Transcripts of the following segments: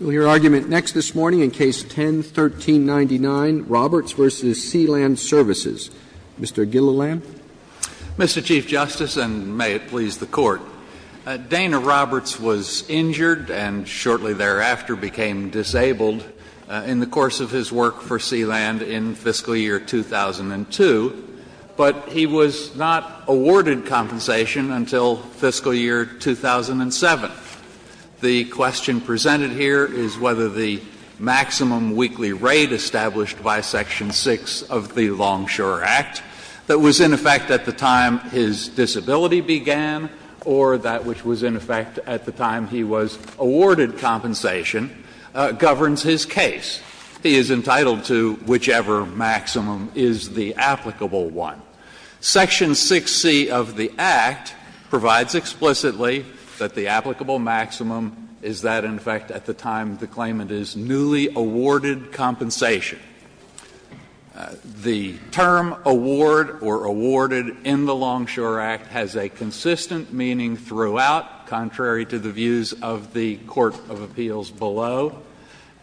Roberts v. Sea-Land Services, Inc. Mr. Gilliland. Mr. Chief Justice, and may it please the Court, Dana Roberts was injured and shortly thereafter became disabled in the course of his work for Sea-Land in fiscal year 2002, but he was not awarded compensation until fiscal year 2002. The question presented here is whether the maximum weekly rate established by Section 6 of the Longshore Act that was in effect at the time his disability began, or that which was in effect at the time he was awarded compensation, governs his case. He is entitled to whichever maximum is the applicable one. Section 6C of the Act provides explicitly that the applicable maximum is that in effect at the time the claimant is newly awarded compensation. The term award or awarded in the Longshore Act has a consistent meaning throughout, contrary to the views of the Court of Appeals below,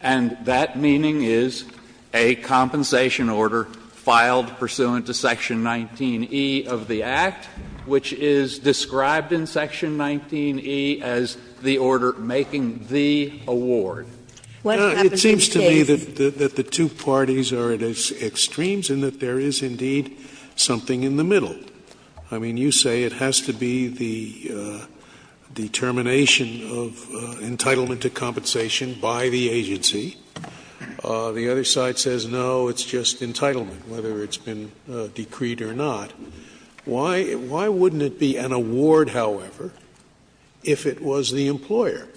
and that meaning is a compensation order filed pursuant to Section 19E of the Act, which is described in Section 19E as the order making the award. It seems to me that the two parties are at extremes and that there is, indeed, something in the middle. I mean, you say it has to be the determination of entitlement to compensation by the agency. The other side says, no, it's just entitlement, whether it's been decreed or not. Why wouldn't it be an award, however, if it was the employer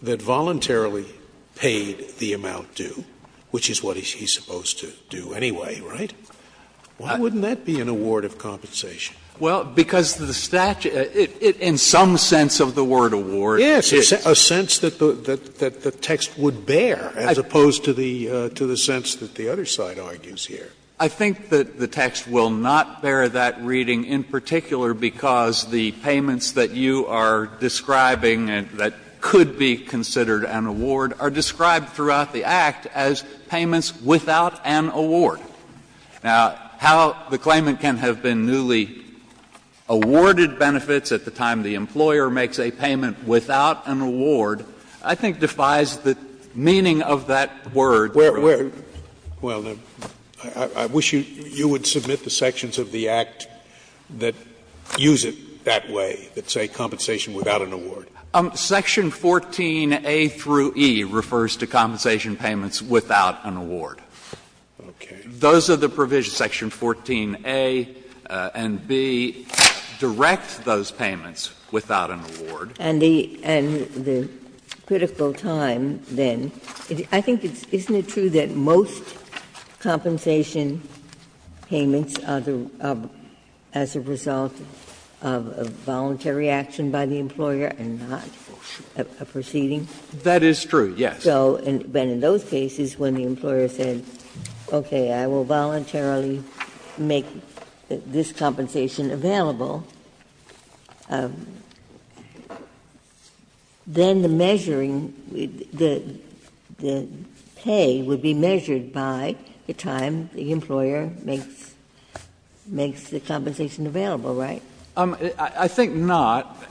that voluntarily paid the amount due, which is what he's supposed to do anyway, right? Why wouldn't that be an award of compensation? Well, because the statute, in some sense of the word award, it is. A sense that the text would bear, as opposed to the sense that the other side argues here. I think that the text will not bear that reading in particular because the payments that you are describing that could be considered an award are described throughout the Act as payments without an award. Now, how the claimant can have been newly awarded benefits at the time the employer makes a payment without an award, I think, defies the meaning of that word. Scalia. Scalia. Well, I wish you would submit the sections of the Act that use it that way, that say compensation without an award. Section 14a through e refers to compensation payments without an award. Those are the provisions, section 14a and b, direct those payments without an award. And the critical time, then, I think it's isn't it true that most compensation payments are as a result of voluntary action by the employer and not a proceeding? That is true, yes. But in those cases, when the employer said, okay, I will voluntarily make this compensation available, then the measuring, the pay would be measured by the time the employer makes the compensation available, right? I think not,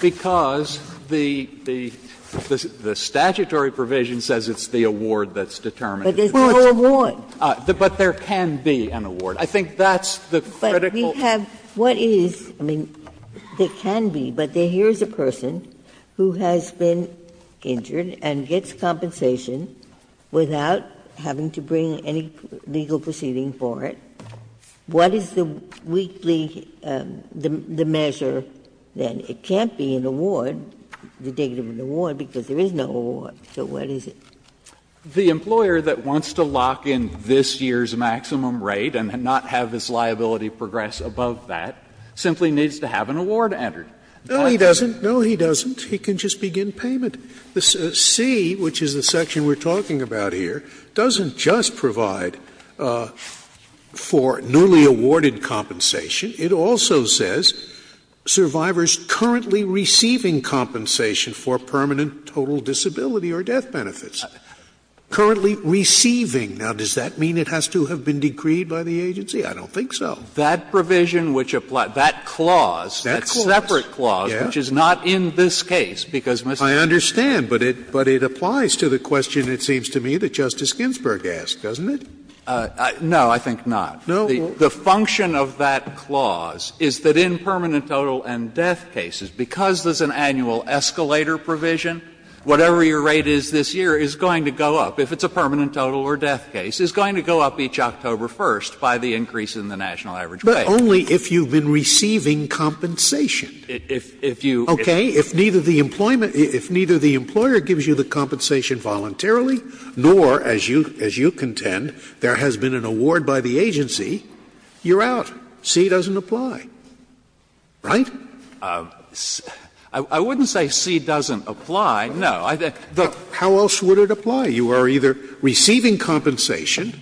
because the statutory provision says it's the award that's determined. But there's no award. But there can be an award. I think that's the critical. Ginsburg. But we have, what is, I mean, there can be, but here's a person who has been injured and gets compensation without having to bring any legal proceeding for it. What is the weekly, the measure, then? It can't be an award, the date of an award, because there is no award, so what is it? The employer that wants to lock in this year's maximum rate and not have his liability progress above that simply needs to have an award entered. No, he doesn't. No, he doesn't. He can just begin payment. The C, which is the section we're talking about here, doesn't just provide for newly awarded compensation. It also says survivors currently receiving compensation for permanent total disability or death benefits. Currently receiving. Now, does that mean it has to have been decreed by the agency? I don't think so. That provision which applies, that clause, that separate clause, which is not in this case, because Mr. Scalia. I understand, but it applies to the question, it seems to me, that Justice Ginsburg asked, doesn't it? No, I think not. No. The function of that clause is that in permanent total and death cases, because there's an annual escalator provision, whatever your rate is this year is going to go up, if it's a permanent total or death case, is going to go up each October 1st by the increase in the national average rate. Scalia. But only if you've been receiving compensation. If you. Okay. If neither the employer gives you the compensation voluntarily, nor, as you contend, there has been an award by the agency, you're out. C doesn't apply, right? I wouldn't say C doesn't apply, no. How else would it apply? You are either receiving compensation,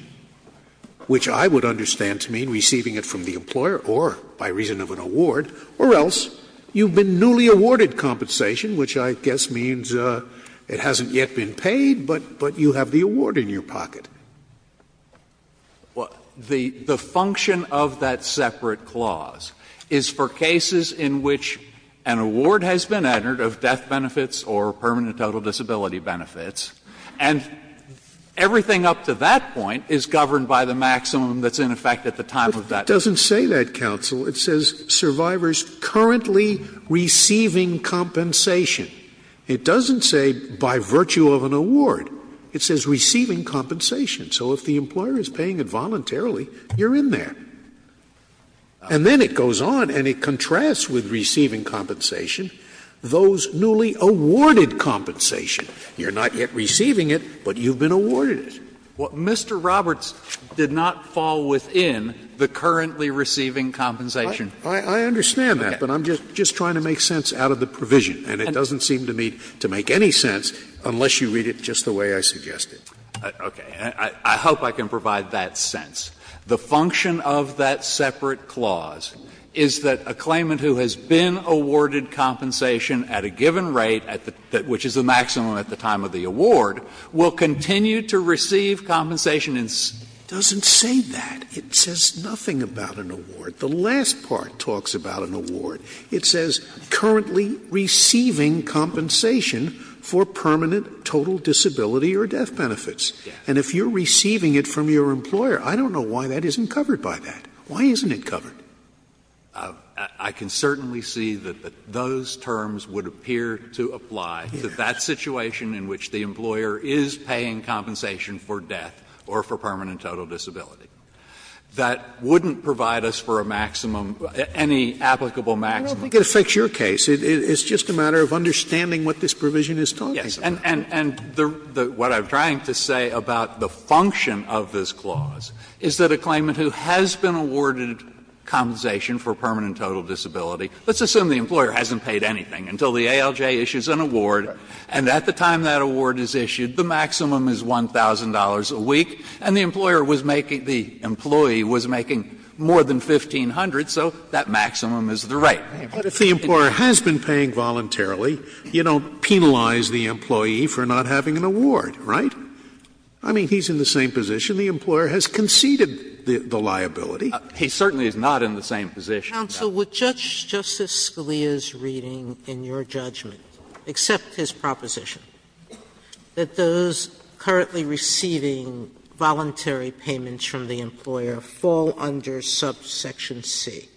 which I would understand to mean receiving it from the employer, or by reason of an award, or else you've been newly awarded compensation, which I guess means it hasn't yet been paid, but you have the award in your pocket. The function of that separate clause is for cases in which an award has been entered of death benefits or permanent total disability benefits, and everything up to that point is governed by the maximum that's in effect at the time of that. It doesn't say that, counsel. It says survivors currently receiving compensation. It doesn't say by virtue of an award. It says receiving compensation. So if the employer is paying it voluntarily, you're in there. And then it goes on and it contrasts with receiving compensation those newly awarded compensation. You're not yet receiving it, but you've been awarded it. Well, Mr. Roberts did not fall within the currently receiving compensation. I understand that, but I'm just trying to make sense out of the provision, and it doesn't seem to me to make any sense unless you read it just the way I suggested. Okay. I hope I can provide that sense. The function of that separate clause is that a claimant who has been awarded compensation at a given rate, which is the maximum at the time of the award, will continue to receive compensation. It doesn't say that. It says nothing about an award. The last part talks about an award. It says currently receiving compensation for permanent total disability or death benefits. And if you're receiving it from your employer, I don't know why that isn't covered by that. Why isn't it covered? I can certainly see that those terms would appear to apply to that situation in which the employer is paying compensation for death or for permanent total disability. That wouldn't provide us for a maximum, any applicable maximum. Scalia I don't think it affects your case. It's just a matter of understanding what this provision is talking about. Breyer Yes. And what I'm trying to say about the function of this clause is that a claimant who has been awarded compensation for permanent total disability, let's assume the employer hasn't paid anything until the ALJ issues an award, and at the time that award is issued, the maximum is $1,000 a week, and the employer was making the employee was making more than $1,500, so that maximum is the right. Scalia But if the employer has been paying voluntarily, you don't penalize the employee for not having an award, right? I mean, he's in the same position. The employer has conceded the liability. Breyer He certainly is not in the same position. Sotomayor Counsel, would Justice Scalia's reading in your judgment accept his proposition? That those currently receiving voluntary payments from the employer fall under subsection C.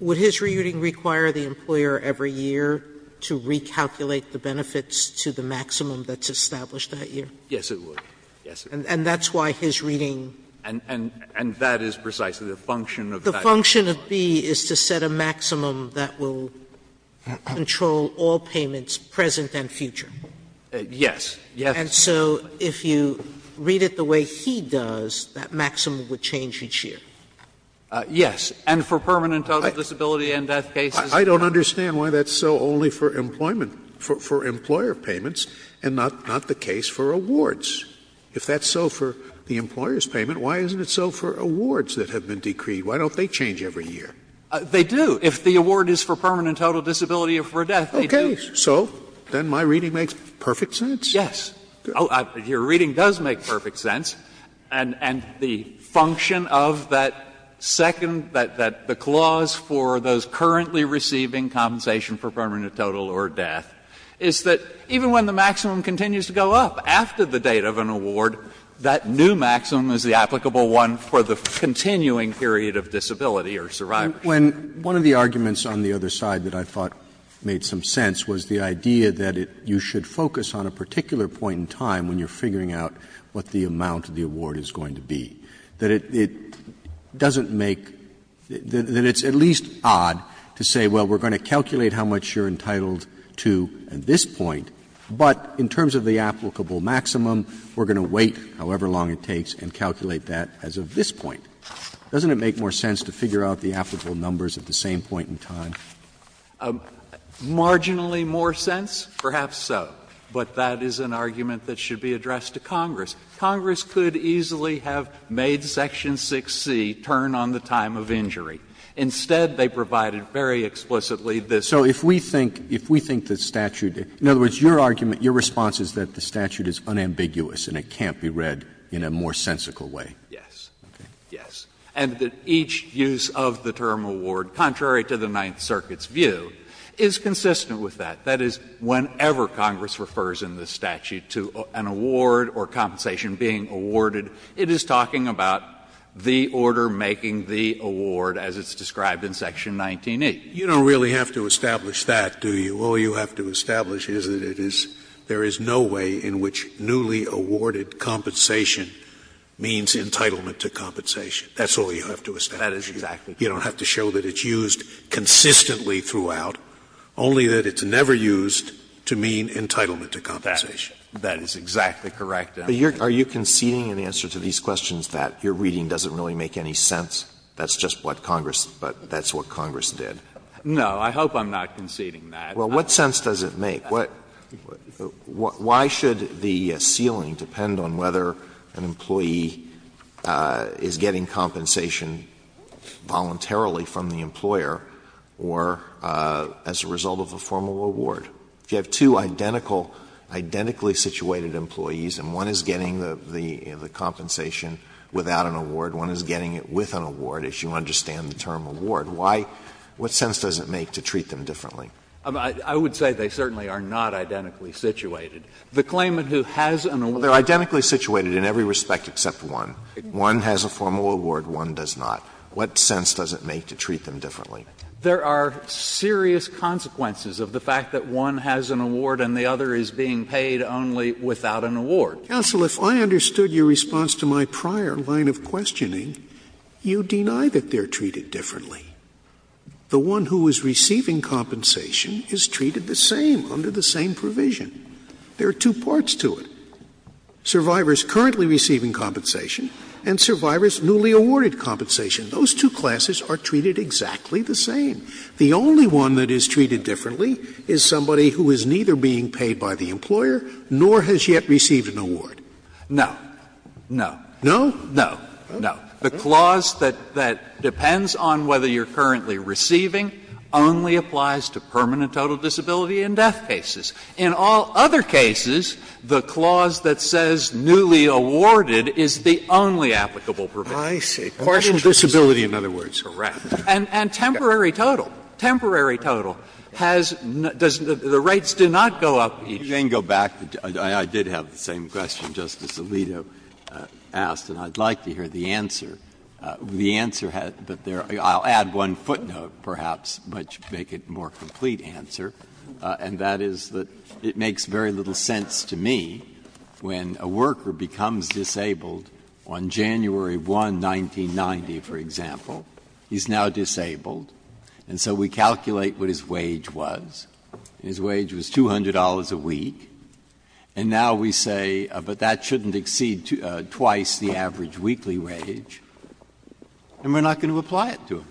Would his reading require the employer every year to recalculate the benefits to the maximum that's established that year? Breyer Yes, it would. Yes, it would. And that's why his reading goes under subsection C. Breyer And that is precisely the function of that clause. Sotomayor And so if you read it the way he does, that maximum would change each year? Breyer Yes. And for permanent total disability and death cases. Scalia I don't understand why that's so only for employment, for employer payments and not the case for awards. If that's so for the employer's payment, why isn't it so for awards that have been decreed? Why don't they change every year? Breyer They do. If the award is for permanent total disability or for death, they do. Scalia So then my reading makes perfect sense? Breyer Yes. Your reading does make perfect sense. And the function of that second, that the clause for those currently receiving compensation for permanent total or death is that even when the maximum continues to go up after the date of an award, that new maximum is the applicable one for the continuing period of disability or survival. Roberts One of the arguments on the other side that I thought made some sense was the idea that you should focus on a particular point in time when you're figuring out what the amount of the award is going to be, that it doesn't make — that it's at least odd to say, well, we're going to calculate how much you're entitled to at this point, but in terms of the applicable maximum, we're going to wait however long it takes and calculate that as of this point. Doesn't it make more sense to figure out the applicable numbers at the same point in time? Breyer Marginally more sense, perhaps so. But that is an argument that should be addressed to Congress. Congress could easily have made section 6C turn on the time of injury. Instead, they provided very explicitly this. Roberts So if we think the statute — in other words, your argument, your response is that the statute is unambiguous and it can't be read in a more sensical way? Breyer Yes. Yes. And that each use of the term award, contrary to the Ninth Circuit's view, is consistent with that. That is, whenever Congress refers in this statute to an award or compensation being awarded, it is talking about the order making the award as it's described in section 19E. Scalia You don't really have to establish that, do you? All you have to establish is that it is — there is no way in which newly awarded compensation means entitlement to compensation. That's all you have to establish. Breyer That is exactly correct. Scalia You don't have to show that it's used consistently throughout, only that it's never used to mean entitlement to compensation. Breyer That is exactly correct. Alito Are you conceding an answer to these questions that your reading doesn't really make any sense, that's just what Congress — that's what Congress did? Breyer No. I hope I'm not conceding that. Alito Well, what sense does it make? Why should the ceiling depend on whether an employee is getting compensation voluntarily from the employer or as a result of a formal award? If you have two identical, identically situated employees and one is getting the compensation without an award, one is getting it with an award, as you understand the term award, what sense does it make to treat them differently? Breyer I would say they certainly are not identically situated. The claimant who has an award — Alito They are identically situated in every respect except one. One has a formal award, one does not. What sense does it make to treat them differently? Breyer There are serious consequences of the fact that one has an award and the other is being paid only without an award. Scalia Counsel, if I understood your response to my prior line of questioning, you deny that they are treated differently. The one who is receiving compensation is treated the same, under the same provision. There are two parts to it. Survivors currently receiving compensation and survivors newly awarded compensation. Those two classes are treated exactly the same. The only one that is treated differently is somebody who is neither being paid by the employer nor has yet received an award. Breyer No. No. Scalia No? Breyer No. No. The clause that depends on whether you are currently receiving only applies to permanent total disability in death cases. In all other cases, the clause that says newly awarded is the only applicable provision. Scalia I see. Partial disability, in other words. Breyer Correct. And temporary total. Temporary total has — the rates do not go up each year. Breyer You can go back. I did have the same question Justice Alito asked, and I would like to hear the answer. The answer — I'll add one footnote, perhaps, to make it a more complete answer, and that is that it makes very little sense to me when a worker becomes disabled on January 1, 1990, for example. He is now disabled, and so we calculate what his wage was. His wage was $200 a week, and now we say, but that shouldn't exceed twice the average weekly wage, and we're not going to apply it to him.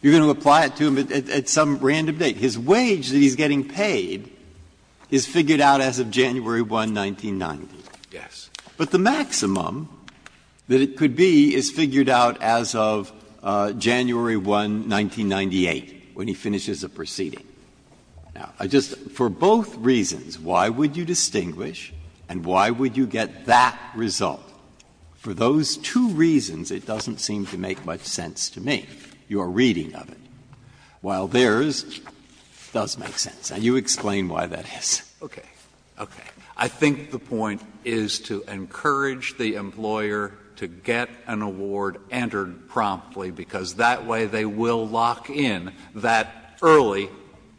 You're going to apply it to him at some random date. His wage that he's getting paid is figured out as of January 1, 1990. But the maximum that it could be is figured out as of January 1, 1998, when he finishes a proceeding. Now, I just — for both reasons, why would you distinguish and why would you get that result? For those two reasons, it doesn't seem to make much sense to me, your reading of it, while theirs does make sense. And you explain why that is. Breyer Okay. Okay. I think the point is to encourage the employer to get an award entered promptly, because that way they will lock in that early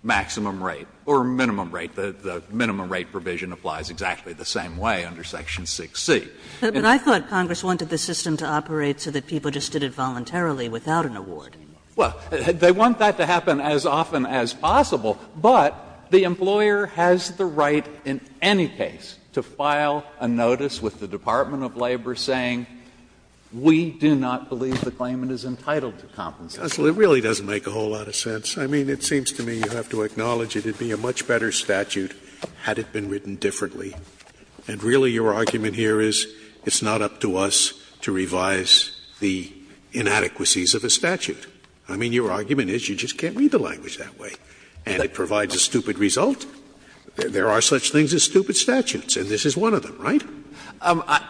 maximum rate or minimum rate. The minimum rate provision applies exactly the same way under section 6C. Kagan But I thought Congress wanted the system to operate so that people just did it voluntarily without an award. Breyer Well, they want that to happen as often as possible, but the employer has the right in any case to file a notice with the Department of Labor saying, we do not believe the claimant is entitled to compensation. Scalia It really doesn't make a whole lot of sense. I mean, it seems to me you have to acknowledge it would be a much better statute had it been written differently. And really your argument here is it's not up to us to revise the inadequacies of a statute. I mean, your argument is you just can't read the language that way, and it provides a stupid result. There are such things as stupid statutes, and this is one of them, right? Breyer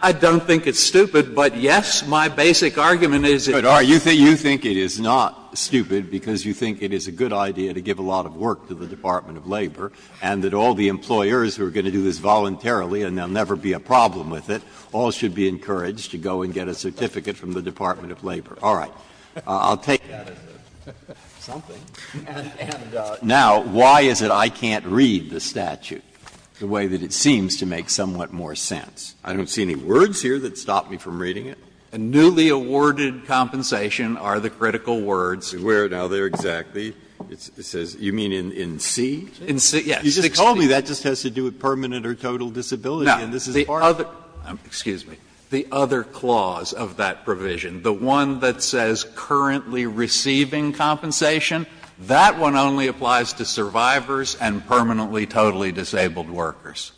I don't think it's stupid, but, yes, my basic argument is it is. Breyer So you think it is not stupid because you think it is a good idea to give a lot of work to the Department of Labor, and that all the employers who are going to do this voluntarily and there will never be a problem with it all should be encouraged to go and get a certificate from the Department of Labor. All right. I'll take that as a something. Now, why is it I can't read the statute the way that it seems to make somewhat more sense? I don't see any words here that stop me from reading it. A newly awarded compensation are the critical words. Breyer Where now, there exactly? It says, you mean in C? Breyer In C, yes. Breyer You just told me that just has to do with permanent or total disability, and this is a part of it. Breyer Now, the other clause of that provision, the one that says currently receiving compensation, that one only applies to survivors and permanently totally disabled workers.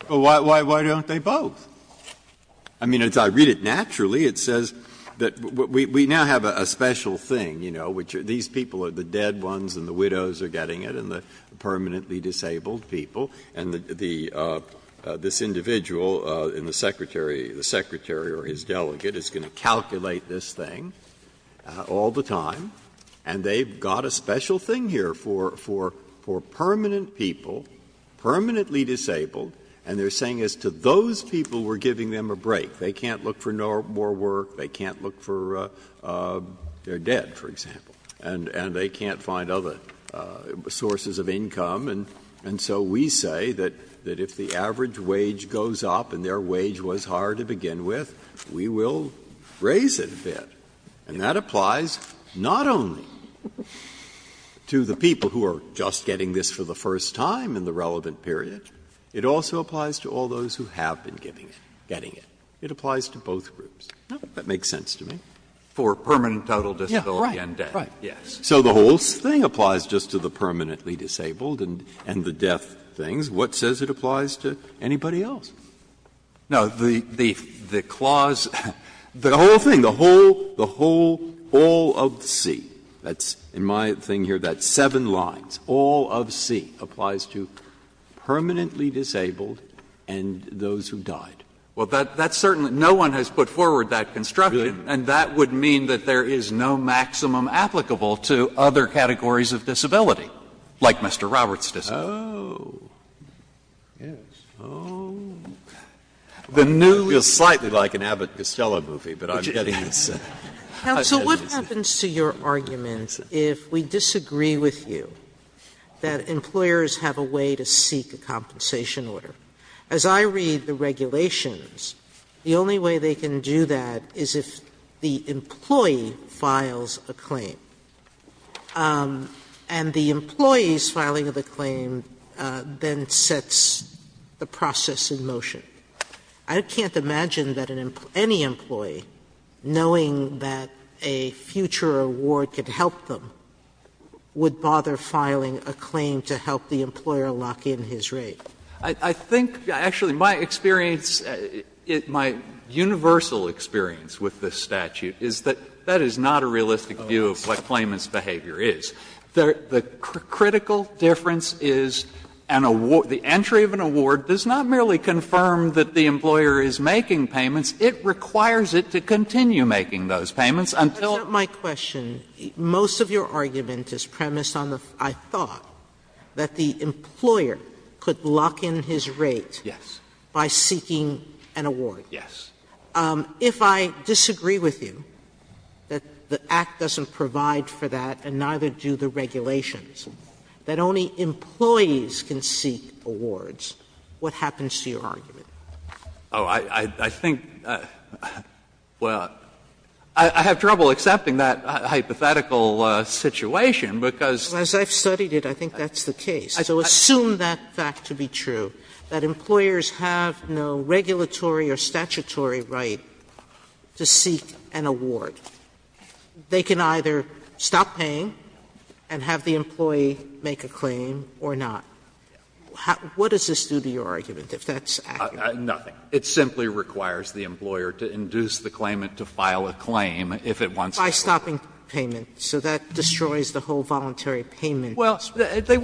Breyer But why don't they both? I mean, as I read it naturally, it says that we now have a special thing, you know, which these people are the dead ones and the widows are getting it and the permanently disabled people, and this individual and the Secretary or his delegate is going to calculate this thing all the time, and they've got a special thing here for permanent people, permanently disabled, and they're saying as to those people who are permanently disabled, we're giving them a break, they can't look for more work, they can't look for they're dead, for example, and they can't find other sources of income, and so we say that if the average wage goes up and their wage was higher to begin with, we will raise it a bit. And that applies not only to the people who are just getting this for the first time in the relevant period, it also applies to all those who have been getting it. It applies to both groups. That makes sense to me. For permanent total disability and death. Breyer So the whole thing applies just to the permanently disabled and the death things. What says it applies to anybody else? Now, the clause, the whole thing, the whole, the whole, all of C, that's in my thing here, that seven lines, all of C, applies to permanently disabled and those who died. Well, that's certainly no one has put forward that construction, and that would mean that there is no maximum applicable to other categories of disability, like Mr. Roberts' disability. Breyer Oh, yes. Oh, I feel slightly like an Abbott Costello movie, but I'm getting this. Sotomayor Counsel, what happens to your argument if we disagree with you that employers have a way to seek a compensation order? As I read the regulations, the only way they can do that is if the employee files a claim, and the employee's filing of the claim then sets the process in motion. I can't imagine that any employee, knowing that a future award could help them, would bother filing a claim to help the employer lock in his rate. Breyer I think, actually, my experience, my universal experience with this statute is that that is not a realistic view of what claimant's behavior is. The critical difference is an award the entry of an award does not merely confirm that the employer is making payments. It requires it to continue making those payments until Sotomayor That's not my question. Most of your argument is premised on the, I thought, that the employer could lock in his rate by seeking an award. Breyer Yes. Sotomayor to the regulations, that only employees can seek awards. What happens to your argument? Breyer Oh, I think, well, I have trouble accepting that hypothetical situation because Sotomayor As I've studied it, I think that's the case. So assume that fact to be true, that employers have no regulatory or statutory right to seek an award. They can either stop paying and have the employee make a claim or not. What does this do to your argument, if that's accurate? Breyer Nothing. It simply requires the employer to induce the claimant to file a claim if it wants to. Sotomayor By stopping payment. So that destroys the whole voluntary payment. Breyer Well, they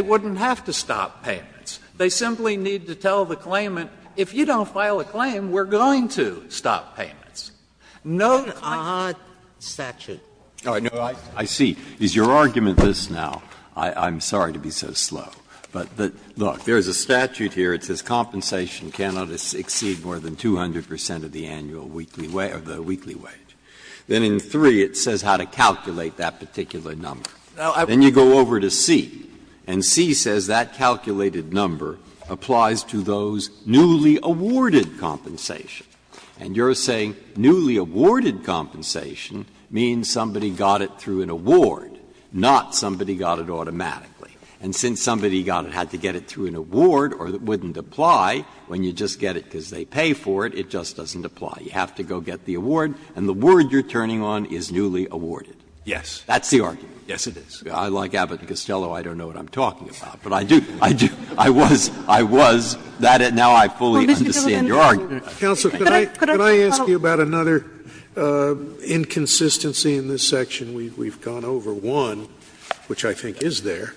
wouldn't have to stop payments. They simply need to tell the claimant, if you don't file a claim, we're going to stop payments. Sotomayor Breyer No, I see. Is your argument this now? I'm sorry to be so slow, but, look, there's a statute here that says compensation cannot exceed more than 200 percent of the annual weekly wage or the weekly wage. Then in 3, it says how to calculate that particular number. Then you go over to C, and C says that calculated number applies to those newly awarded compensation. And you're saying newly awarded compensation means somebody got it through an award, not somebody got it automatically. And since somebody got it, had to get it through an award, or it wouldn't apply when you just get it because they pay for it, it just doesn't apply. You have to go get the award, and the word you're turning on is newly awarded. Breyer Yes. Breyer That's the argument. Breyer Yes, it is. Breyer I, like Abbott and Costello, I don't know what I'm talking about, but I do, I do. I was, I was. Now I fully understand your argument. Scalia Counsel, could I ask you about another inconsistency in this section? We've gone over one, which I think is there.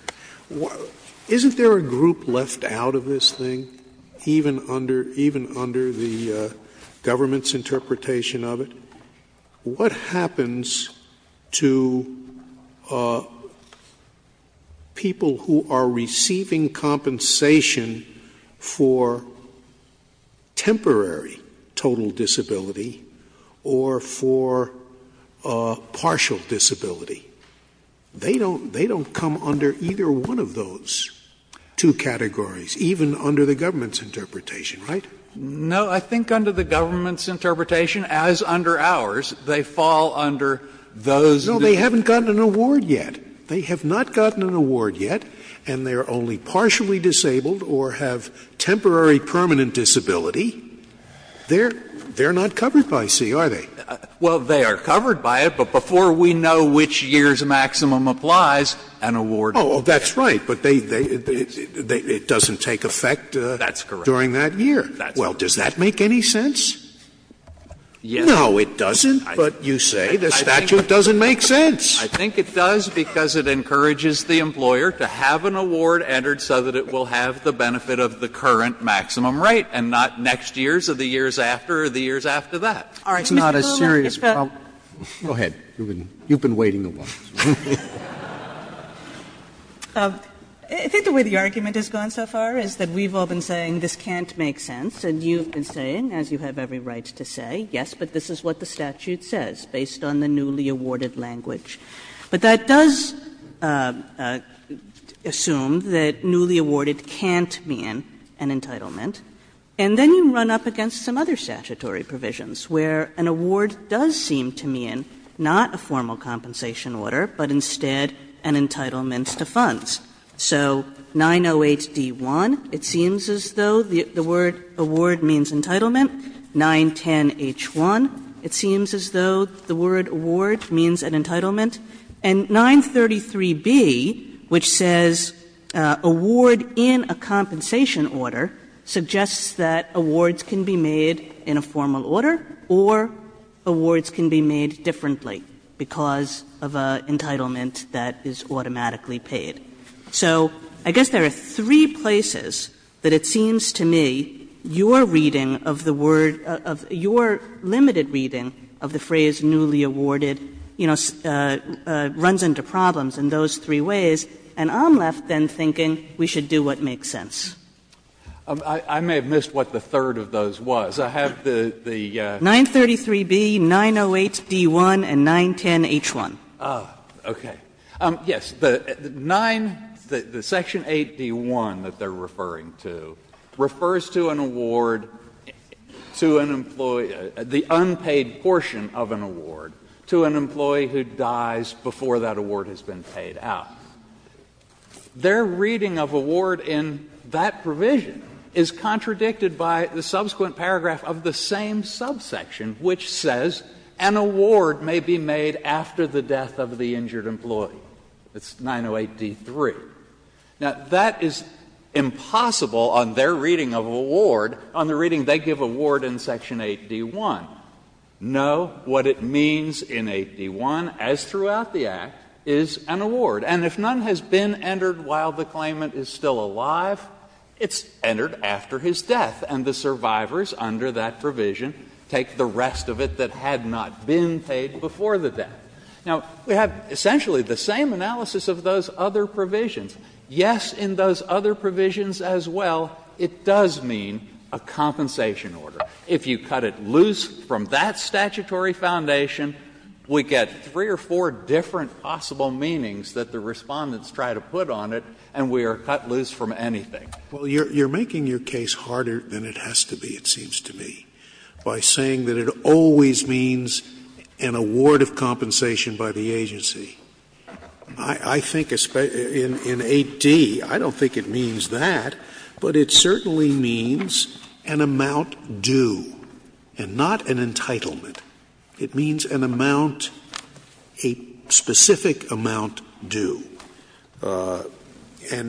Isn't there a group left out of this thing, even under, even under the government's interpretation of it? What happens to people who are receiving compensation for temporary total disability or for partial disability? They don't, they don't come under either one of those two categories, even under the government's interpretation, right? Breyer No, I think under the government's interpretation, as under ours, they fall under those. Scalia No, they haven't gotten an award yet. They have not gotten an award yet, and they are only partially disabled or have temporary permanent disability. They're, they're not covered by C, are they? Breyer Well, they are covered by it, but before we know which year's maximum applies, an award is given. Scalia Oh, that's right. But they, they, it doesn't take effect during that year. Breyer Well, does that make any sense? No, it doesn't, but you say the statute doesn't make sense. Breyer I think it does because it encourages the employer to have an award entered so that it will have the benefit of the current maximum rate and not next year's or the years after or the years after that. Sotomayor All right, Mr. Sotomayor, if that's what you're saying, Mr. Sotomayor, go ahead. You've been, you've been waiting a while. I think the way the argument has gone so far is that we've all been saying this can't make sense, and you've been saying, as you have every right to say, yes, but this is what the statute says based on the newly awarded language. But that does assume that newly awarded can't mean an entitlement, and then you run up against some other statutory provisions where an award does seem to mean not a formal compensation order, but instead an entitlement to funds. So 908d-1, it seems as though the word award means entitlement. 910h-1, it seems as though the word award means an entitlement. And 933b, which says award in a compensation order, suggests that awards can be made in a formal order or awards can be made differently because of an entitlement that is automatically paid. So I guess there are three places that it seems to me your reading of the word, of your limited reading of the phrase newly awarded, you know, runs into problems in those three ways, and I'm left then thinking we should do what makes sense. I may have missed what the third of those was. I have the the 933b, 908d-1, and 910h-1. Oh, okay. Yes, the 9, the section 8d-1 that they are referring to, refers to an award to an employee the unpaid portion of an award to an employee who dies before that award has been paid out. Now, their reading of award in that provision is contradicted by the subsequent paragraph of the same subsection which says an award may be made after the death of the injured employee. It's 908d-3. Now, that is impossible on their reading of award on the reading they give award in section 8d-1. No, what it means in 8d-1, as throughout the Act, is an award. And if none has been entered while the claimant is still alive, it's entered after his death, and the survivors under that provision take the rest of it that had not been paid before the death. Now, we have essentially the same analysis of those other provisions. Yes, in those other provisions as well, it does mean a compensation order. If you cut it loose from that statutory foundation, we get three or four different possible meanings that the Respondents try to put on it, and we are cut loose from anything. Scalia. Well, you're making your case harder than it has to be, it seems to me, by saying that it always means an award of compensation by the agency. I think in 8d, I don't think it means that, but it certainly means an amount due and not an entitlement. It means an amount, a specific amount due. And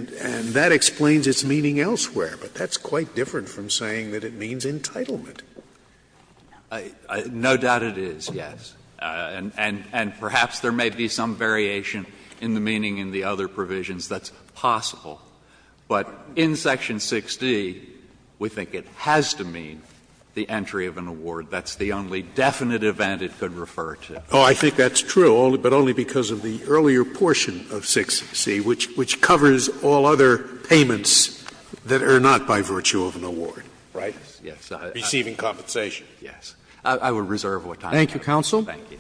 that explains its meaning elsewhere, but that's quite different from saying that it means entitlement. No doubt it is, yes. And perhaps there may be some variation in the meaning in the other provisions that's possible. But in Section 6d, we think it has to mean the entry of an award. That's the only definite event it could refer to. Scalia. Oh, I think that's true, but only because of the earlier portion of 6c, which covers all other payments that are not by virtue of an award. Right? Yes. Receiving compensation. Yes. I would reserve what time I have. Thank you, counsel. Thank you.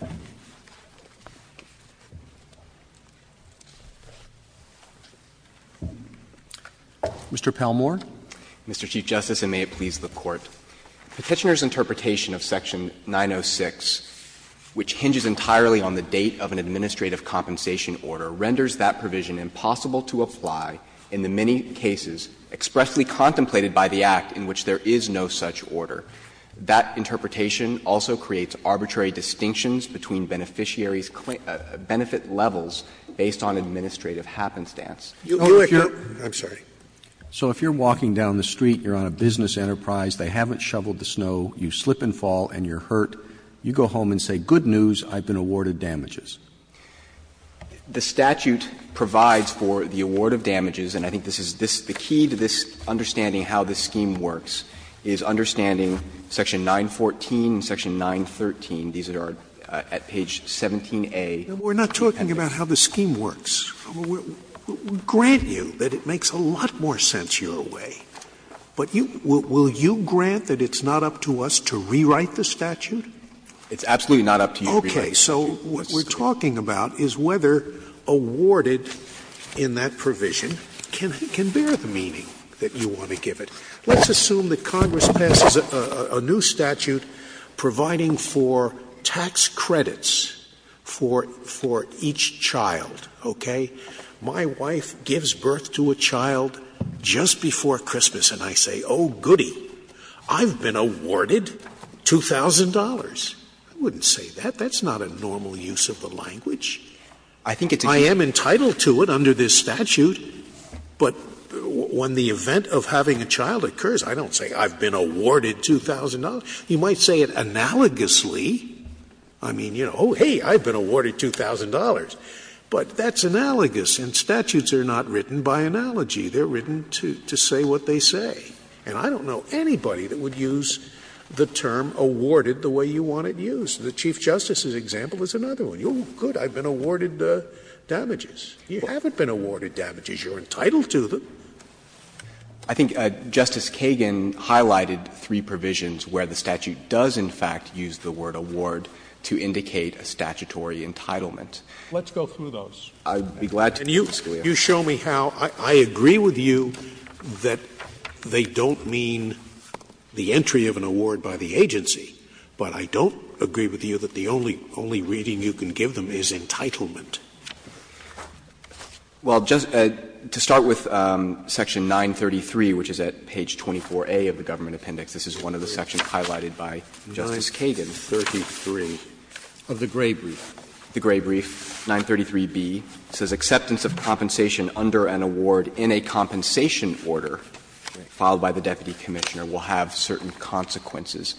Mr. Palmore. Mr. Chief Justice, and may it please the Court. Petitioner's interpretation of Section 906, which hinges entirely on the date of an administrative compensation order, renders that provision impossible to apply in the many cases expressly contemplated by the Act in which there is no such order. That interpretation also creates arbitrary distinctions between beneficiaries' benefit levels based on administrative happenstance. You would hear the difference. I'm sorry. So if you're walking down the street, you're on a business enterprise, they haven't shoveled the snow, you slip and fall and you're hurt, you go home and say, good news, I've been awarded damages. The statute provides for the award of damages, and I think this is the key to this understanding how this scheme works, is understanding Section 914 and Section 913. These are at page 17a. We're not talking about how the scheme works. We grant you that it makes a lot more sense your way, but will you grant that it's not up to us to rewrite the statute? It's absolutely not up to you to rewrite the statute. Okay. So what we're talking about is whether awarded in that provision can bear the meaning that you want to give it. Let's assume that Congress passes a new statute providing for tax credits for each child, okay? My wife gives birth to a child just before Christmas, and I say, oh, goody, I've been awarded $2,000. I wouldn't say that. That's not a normal use of the language. I am entitled to it under this statute, but when the event of having a child occurs, I don't say, I've been awarded $2,000. You might say it analogously. But that's analogous, and statutes are not written by analogy. They're written to say what they say. And I don't know anybody that would use the term awarded the way you want it used. The Chief Justice's example is another one. Oh, good, I've been awarded damages. You haven't been awarded damages. You're entitled to them. I think Justice Kagan highlighted three provisions where the statute does, in fact, use the word award to indicate a statutory entitlement. Let's go through those. I'd be glad to. And you show me how — I agree with you that they don't mean the entry of an award by the agency, but I don't agree with you that the only reading you can give them is entitlement. Well, to start with Section 933, which is at page 24A of the Government Appendix. This is one of the sections highlighted by Justice Kagan. 933 of the Gray Brief. The Gray Brief, 933B, says acceptance of compensation under an award in a compensation order filed by the deputy commissioner will have certain consequences.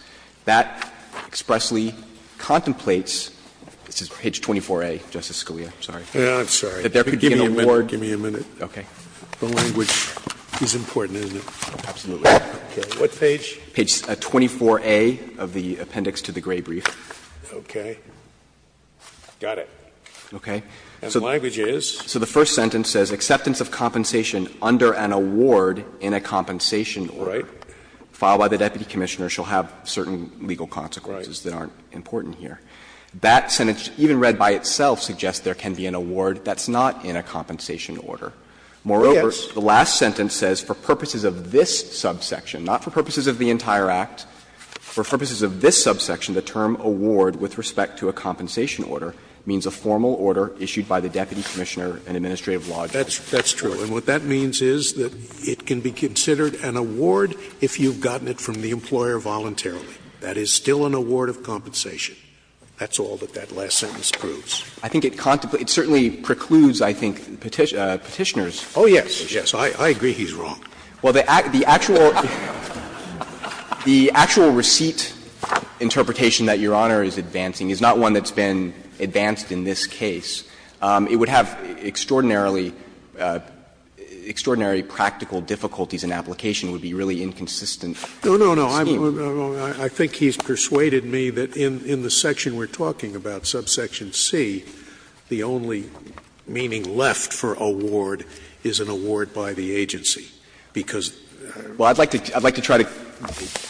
That expressly contemplates — this is page 24A, Justice Scalia, I'm sorry. Scalia, that there could be an award. Give me a minute. Okay. The language is important, isn't it? Absolutely. What page? Page 24A of the Appendix to the Gray Brief. Okay. Got it. Okay. And the language is? So the first sentence says, ''Acceptance of compensation under an award in a compensation order filed by the deputy commissioner shall have certain legal consequences that aren't important here.'' That sentence, even read by itself, suggests there can be an award that's not in a compensation order. Moreover, the last sentence says, ''For purposes of this subsection'', not for purposes of the entire Act, ''For purposes of this subsection, the term ''award'' with respect to a compensation order means a formal order issued by the deputy commissioner and administrative law.'' That's true. And what that means is that it can be considered an award if you've gotten it from the employer voluntarily. That is still an award of compensation. That's all that that last sentence proves. I think it contemplates — it certainly precludes, I think, Petitioner's position. Oh, yes. Yes. I agree he's wrong. Well, the actual receipt interpretation that Your Honor is advancing is not one that's been advanced in this case. It would have extraordinarily practical difficulties in application. It would be really inconsistent. No, no, no. I think he's persuaded me that in the section we're talking about, subsection C, the only meaning left for ''award'' is an award by the agency, because they're the same. Well, I'd like to try to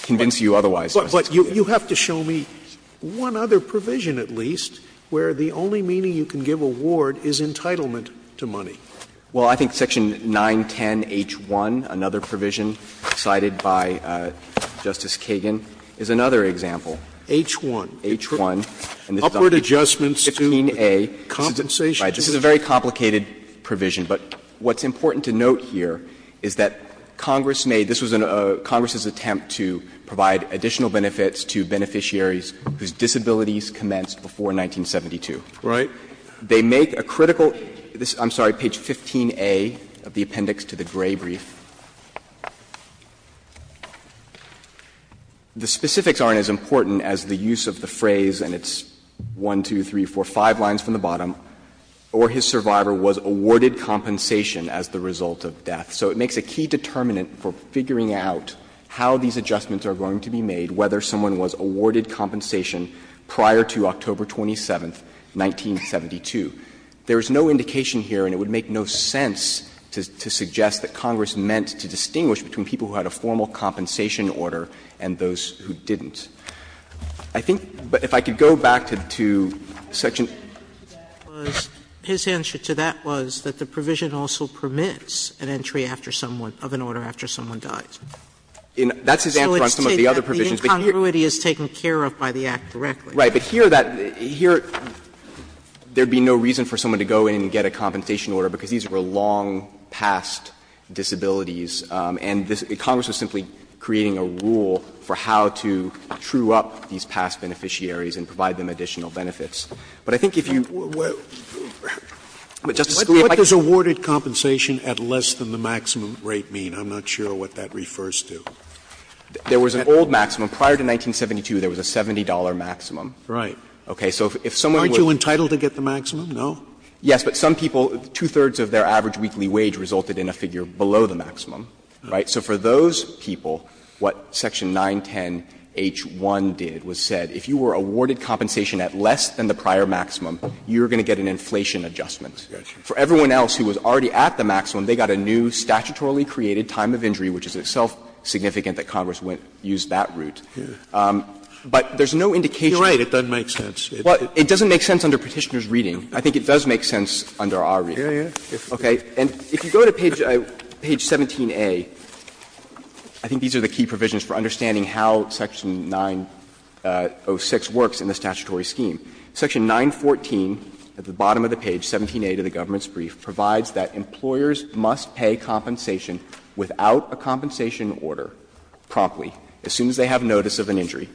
convince you otherwise, Justice Scalia. But you have to show me one other provision at least where the only meaning you can give ''award'' is entitlement to money. Well, I think section 910H1, another provision cited by Justice Kagan, is another example. H1. H1. Upward adjustments to compensation. This is a very complicated provision, but what's important to note here is that Congress made this was a Congress' attempt to provide additional benefits to beneficiaries whose disabilities commenced before 1972. Right. They make a critical, I'm sorry, page 15A of the appendix to the Gray brief. The specifics aren't as important as the use of the phrase, and it's 1, 2, 3, 4, 5 lines from the bottom, ''or his survivor was awarded compensation as the result of death.'' So it makes a key determinant for figuring out how these adjustments are going to be made, whether someone was awarded compensation prior to October 27, 1972. There is no indication here, and it would make no sense to suggest that Congress meant to distinguish between people who had a formal compensation order and those who didn't. I think if I could go back to section Sotomayor's answer to that was that the provision also permits an entry after someone of an order after someone dies. That's his answer on some of the other provisions. The incongruity is taken care of by the Act directly. Right. But here that here, there would be no reason for someone to go in and get a compensation order, because these were long-past disabilities, and Congress was simply creating a rule for how to true up these past beneficiaries and provide them additional benefits. But I think if you would, Justice Scalia, if I could just say. Scalia, what does ''awarded compensation'' at less than the maximum rate mean? I'm not sure what that refers to. There was an old maximum. Prior to 1972, there was a $70 maximum. Right. Okay. So if someone were to get the maximum, no? Yes, but some people, two-thirds of their average weekly wage resulted in a figure below the maximum, right? So for those people, what section 910H1 did was said, if you were awarded compensation at less than the prior maximum, you were going to get an inflation adjustment. For everyone else who was already at the maximum, they got a new statutorily created time of injury, which is itself significant that Congress used that route. But there's no indication. You're right, it doesn't make sense. Well, it doesn't make sense under Petitioner's reading. I think it does make sense under our reading. Okay. And if you go to page 17a, I think these are the key provisions for understanding how section 906 works in the statutory scheme. Section 914 at the bottom of the page, 17a to the government's brief, provides that employers must pay compensation without a compensation order promptly, as soon as they have notice of an injury.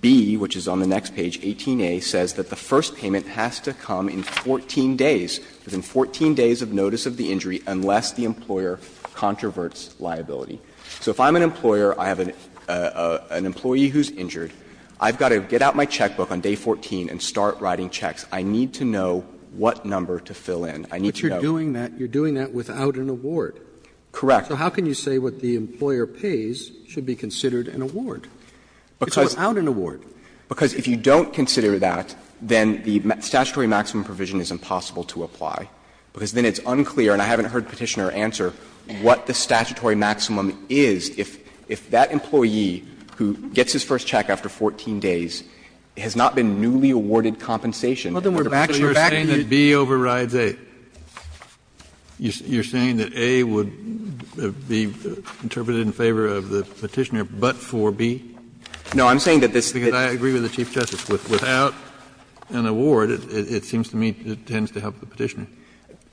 B, which is on the next page, 18a, says that the first payment has to come in 14 days, within 14 days of notice of the injury, unless the employer controverts liability. So if I'm an employer, I have an employee who's injured, I've got to get out my checkbook on day 14 and start writing checks. I need to know what number to fill in. I need to know. But you're doing that without an award. Correct. So how can you say what the employer pays should be considered an award? It's without an award. Because if you don't consider that, then the statutory maximum provision is impossible to apply, because then it's unclear, and I haven't heard Petitioner answer, what the statutory maximum is if that employee who gets his first check after 14 days has not been newly awarded compensation under Petitioner's reading. Kennedy, you're saying that B overrides A. You're saying that A would be interpreted in favor of the Petitioner but for B? No, I'm saying that this is the case. Because I agree with the Chief Justice. Without an award, it seems to me it tends to help the Petitioner.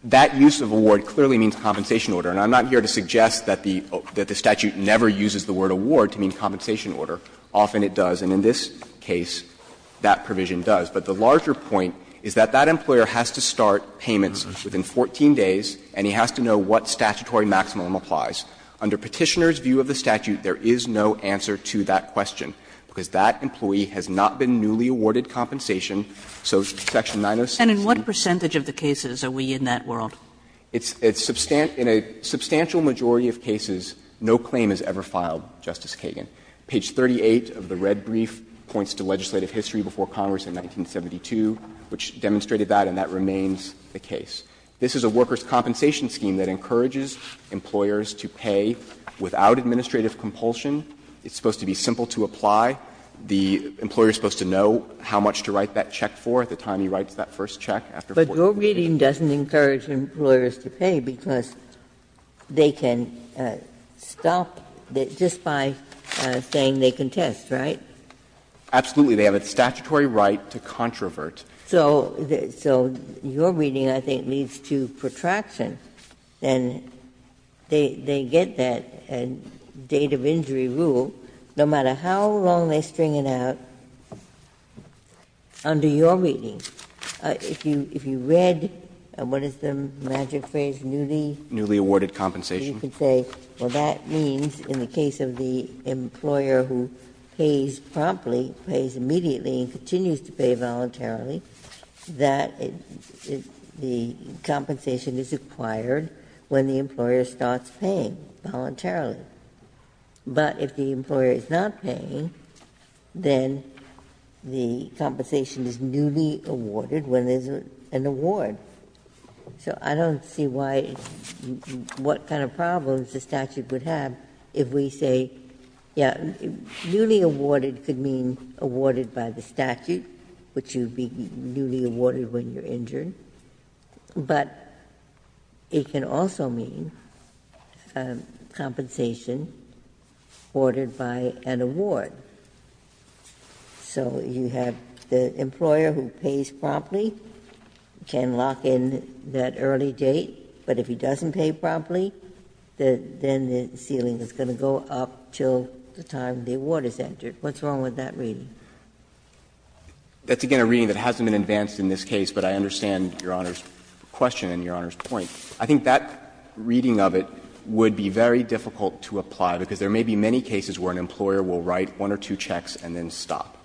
That use of award clearly means compensation order. And I'm not here to suggest that the statute never uses the word award to mean compensation order. Often it does, and in this case that provision does. But the larger point is that that employer has to start payments within 14 days and he has to know what statutory maximum applies. Under Petitioner's view of the statute, there is no answer to that question, because that employee has not been newly awarded compensation. So Section 906. And in what percentage of the cases are we in that world? In a substantial majority of cases, no claim is ever filed, Justice Kagan. Page 38 of the red brief points to legislative history before Congress in 1972, which demonstrated that, and that remains the case. This is a workers' compensation scheme that encourages employers to pay without administrative compulsion. It's supposed to be simple to apply. The employer is supposed to know how much to write that check for at the time he writes that first check after 14 days. Ginsburg's reading doesn't encourage employers to pay because they can stop just by saying they can test, right? Absolutely. They have a statutory right to controvert. So your reading, I think, leads to protraction. And they get that date of injury rule, no matter how long they string it out, under your reading. If you read, what is the magic phrase, newly? Newly awarded compensation. You could say, well, that means in the case of the employer who pays promptly, pays immediately and continues to pay voluntarily, that the compensation is acquired when the employer starts paying voluntarily. But if the employer is not paying, then the compensation is newly awarded when there is an award. So I don't see why you can see what kind of problems the statute would have if we say, yes, newly awarded could mean awarded by the statute, which would be newly awarded when you're injured. But it can also mean compensation ordered by an award. So you have the employer who pays promptly can lock in that early date, but if he doesn't pay promptly, then the ceiling is going to go up until the time the award is entered. What's wrong with that reading? That's, again, a reading that hasn't been advanced in this case, but I understand Your Honor's question and Your Honor's point. I think that reading of it would be very difficult to apply, because there may be many cases where an employer will write one or two checks and then stop.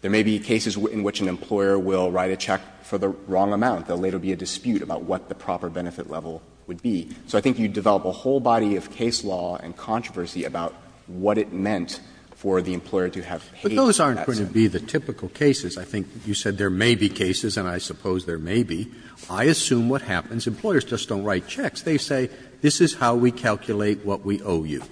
There may be cases in which an employer will write a check for the wrong amount. There will later be a dispute about what the proper benefit level would be. So I think you develop a whole body of case law and controversy about what it meant for the employer to have paid. Those aren't going to be the typical cases. I think you said there may be cases, and I suppose there may be. I assume what happens, employers just don't write checks. They say, this is how we calculate what we owe you,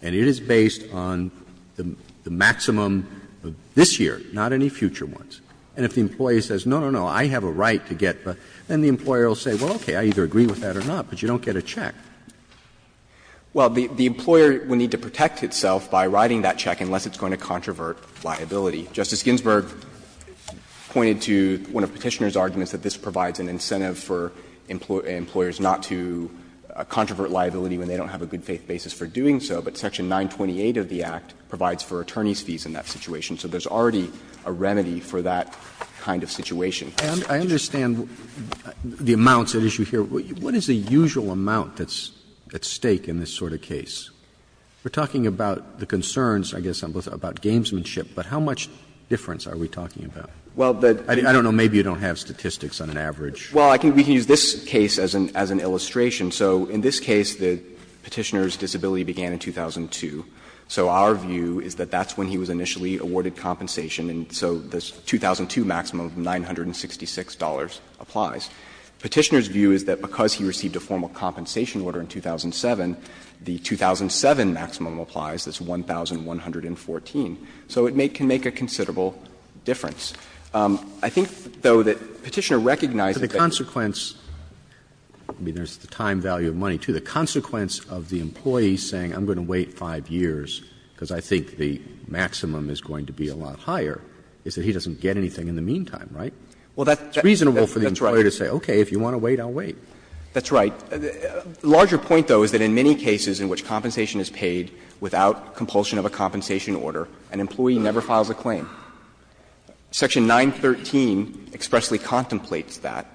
and it is based on the maximum of this year, not any future ones. And if the employer says, no, no, no, I have a right to get, then the employer will say, well, okay, I either agree with that or not, but you don't get a check. Well, the employer would need to protect itself by writing that check unless it's a point of controvert liability. Justice Ginsburg pointed to one of Petitioner's arguments that this provides an incentive for employers not to controvert liability when they don't have a good faith basis for doing so, but section 928 of the Act provides for attorney's fees in that situation. So there's already a remedy for that kind of situation. Roberts. Roberts. And I understand the amounts at issue here. What is the usual amount that's at stake in this sort of case? We're talking about the concerns, I guess, about gamesmanship, but how much difference are we talking about? I don't know. Maybe you don't have statistics on an average. Well, we can use this case as an illustration. So in this case, Petitioner's disability began in 2002. So our view is that that's when he was initially awarded compensation, and so the 2002 maximum of $966 applies. Petitioner's view is that because he received a formal compensation order in 2007, the 2007 maximum applies, that's $1,114. So it can make a considerable difference. I think, though, that Petitioner recognized that the consequence of the time value of money, too, the consequence of the employee saying, I'm going to wait 5 years because I think the maximum is going to be a lot higher, is that he doesn't get anything in the meantime, right? It's reasonable for the employer to say, okay, if you want to wait, I'll wait. That's right. The larger point, though, is that in many cases in which compensation is paid without compulsion of a compensation order, an employee never files a claim. Section 913 expressly contemplates that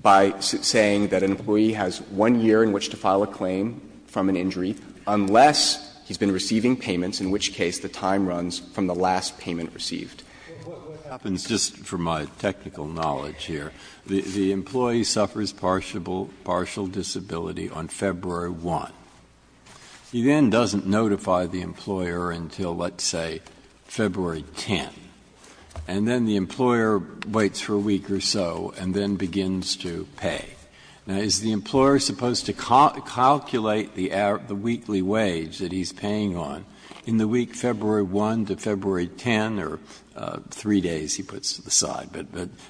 by saying that an employee has 1 year in which to file a claim from an injury unless he's been receiving payments, in which case the time runs from the last payment received. Breyer, what happens, just for my technical knowledge here, the employee suffers partial disability on February 1. He then doesn't notify the employer until, let's say, February 10, and then the employer waits for a week or so and then begins to pay. Now, is the employer supposed to calculate the weekly wage that he's paying on in the week February 1 to February 10, or 3 days, he puts to the side, but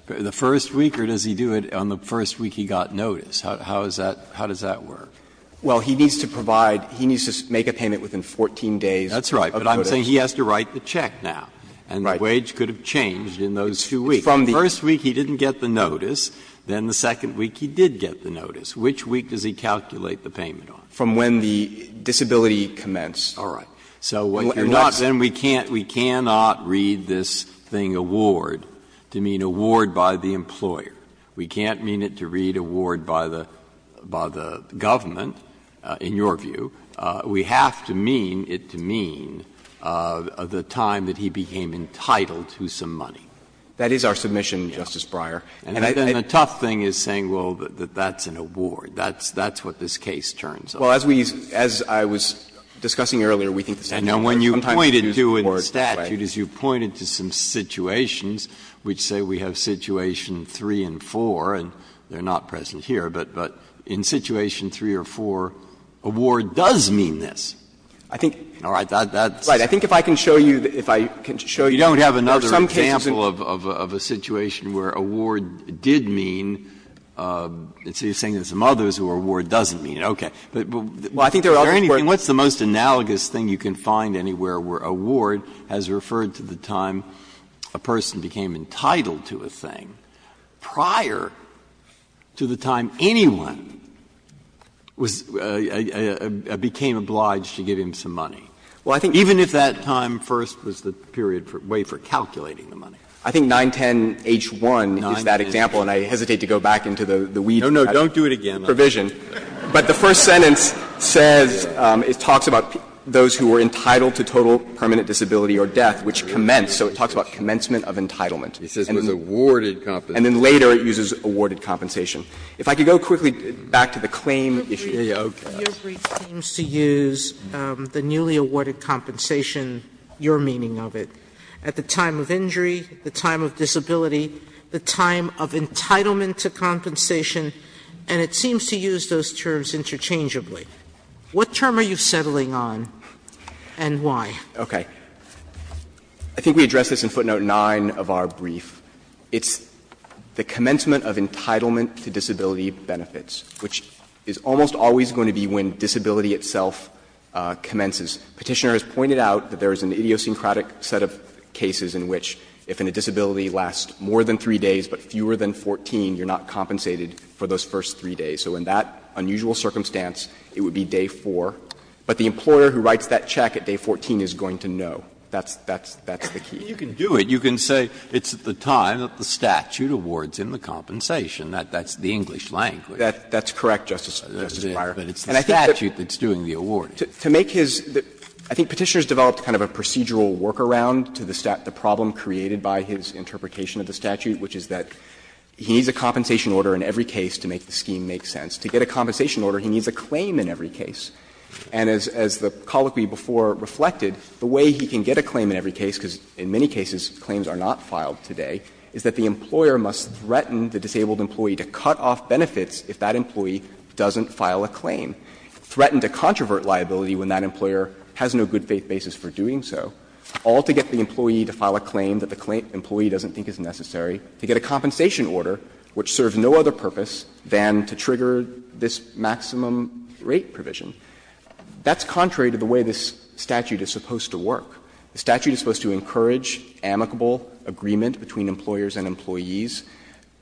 the first week, or does he do it on the first week he got notice? How does that work? Well, he needs to provide, he needs to make a payment within 14 days. That's right, but I'm saying he has to write the check now, and the wage could have changed in those two weeks. If from the first week he didn't get the notice, then the second week he did get the notice. Which week does he calculate the payment on? From when the disability commenced. All right. So you're not saying we can't, we cannot read this thing award to mean award by the employer. We can't mean it to read award by the government, in your view. We have to mean it to mean the time that he became entitled to some money. That is our submission, Justice Breyer. And then the tough thing is saying, well, that that's an award. That's what this case turns on. Well, as we, as I was discussing earlier, we think the statute sometimes uses the word statute as you pointed to some situations, which say we have situation 3 and 4, and they're not present here. But in situation 3 or 4, award does mean this. All right. That's. Right. I think if I can show you, if I can show you. You don't have another example of a situation where award did mean, and so you're saying there's some others where award doesn't mean it. Okay. Well, I think there are other words. Breyer. What's the most analogous thing you can find anywhere where award has referred to the time a person became entitled to a thing prior to the time anyone was became obliged to give him some money? Well, I think even if that time first was the period for way for calculating the money. I think 910H1 is that example, and I hesitate to go back into the weed head provision. No, no, don't do it again. But the first sentence says, it talks about those who were entitled to total permanent disability or death, which commenced. So it talks about commencement of entitlement. It says it was awarded compensation. And then later it uses awarded compensation. If I could go quickly back to the claim issue. Okay. Your brief seems to use the newly awarded compensation, your meaning of it, at the time of injury, the time of disability, the time of entitlement to compensation, and it seems to use those terms interchangeably. What term are you settling on and why? Okay. I think we addressed this in footnote 9 of our brief. It's the commencement of entitlement to disability benefits, which is almost always going to be when disability itself commences. Petitioner has pointed out that there is an idiosyncratic set of cases in which if a disability lasts more than 3 days but fewer than 14, you're not compensated for those first 3 days. So in that unusual circumstance, it would be day 4. But the employer who writes that check at day 14 is going to know. That's the key. You can do it. You can say it's the time that the statute awards him the compensation. That's the English language. That's correct, Justice Breyer. And I think that's the statute that's doing the awarding. To make his – I think Petitioner has developed kind of a procedural workaround to the problem created by his interpretation of the statute, which is that he needs a compensation order in every case to make the scheme make sense. To get a compensation order, he needs a claim in every case. And as the colloquy before reflected, the way he can get a claim in every case, because in many cases claims are not filed today, is that the employer must threaten the disabled employee to cut off benefits if that employee doesn't file a claim, threaten to controvert liability when that employer has no good faith basis for doing so, all to get the employee to file a claim that the employee doesn't think is necessary, to get a compensation order which serves no other purpose than to trigger this maximum rate provision. That's contrary to the way this statute is supposed to work. The statute is supposed to encourage amicable agreement between employers and employees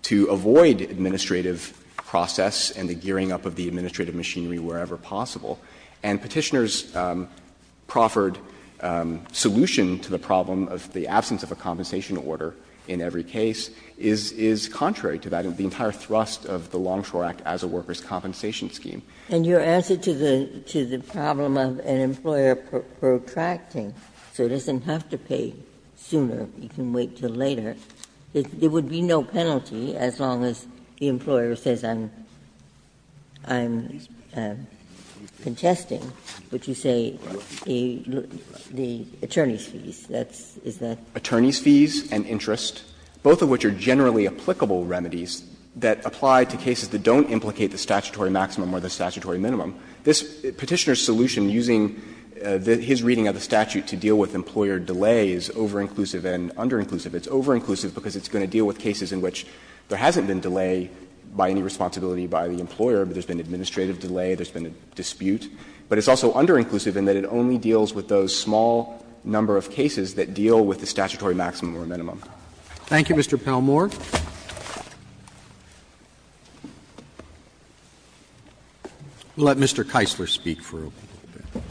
to avoid administrative process and the gearing up of the administrative machinery wherever possible. And Petitioner's proffered solution to the problem of the absence of a compensation order in every case is contrary to that, and the entire thrust of the Longshore Act as a workers' compensation scheme. Ginsburg. And your answer to the problem of an employer protracting, so it doesn't have to pay sooner, you can wait until later, there would be no penalty as long as the employer says I'm, I'm contesting what you say, the attorney's fees, that's, is that? Attorney's fees and interest, both of which are generally applicable remedies that apply to cases that don't implicate the statutory maximum or the statutory minimum. This Petitioner's solution using his reading of the statute to deal with employer delay is over-inclusive and under-inclusive. It's over-inclusive because it's going to deal with cases in which there hasn't been delay by any responsibility by the employer, but there's been administrative delay, there's been a dispute. But it's also under-inclusive in that it only deals with those small number of cases that deal with the statutory maximum or minimum. Thank you, Mr. Palmore. We'll let Mr. Keisler speak for a little bit.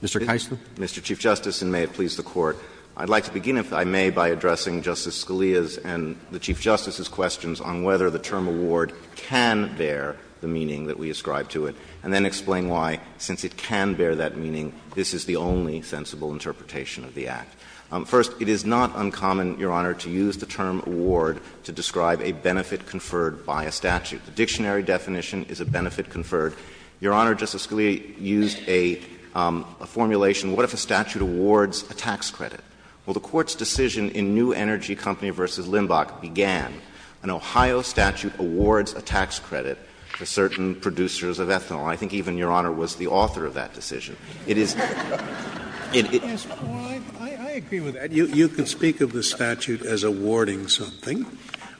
Mr. Keisler. Mr. Chief Justice, and may it please the Court. I'd like to begin, if I may, by addressing Justice Scalia's and the Chief Justice's questions on whether the term award can bear the meaning that we ascribe to it, and then explain why, since it can bear that meaning, this is the only sensible interpretation of the Act. First, it is not uncommon, Your Honor, to use the term award to describe a benefit conferred by a statute. The dictionary definition is a benefit conferred. Your Honor, Justice Scalia used a formulation. What if a statute awards a tax credit? Well, the Court's decision in New Energy Company v. Limbach began, an Ohio statute awards a tax credit to certain producers of ethanol. I think even Your Honor was the author of that decision. It is — Scalia, I agree with that. You can speak of the statute as awarding something,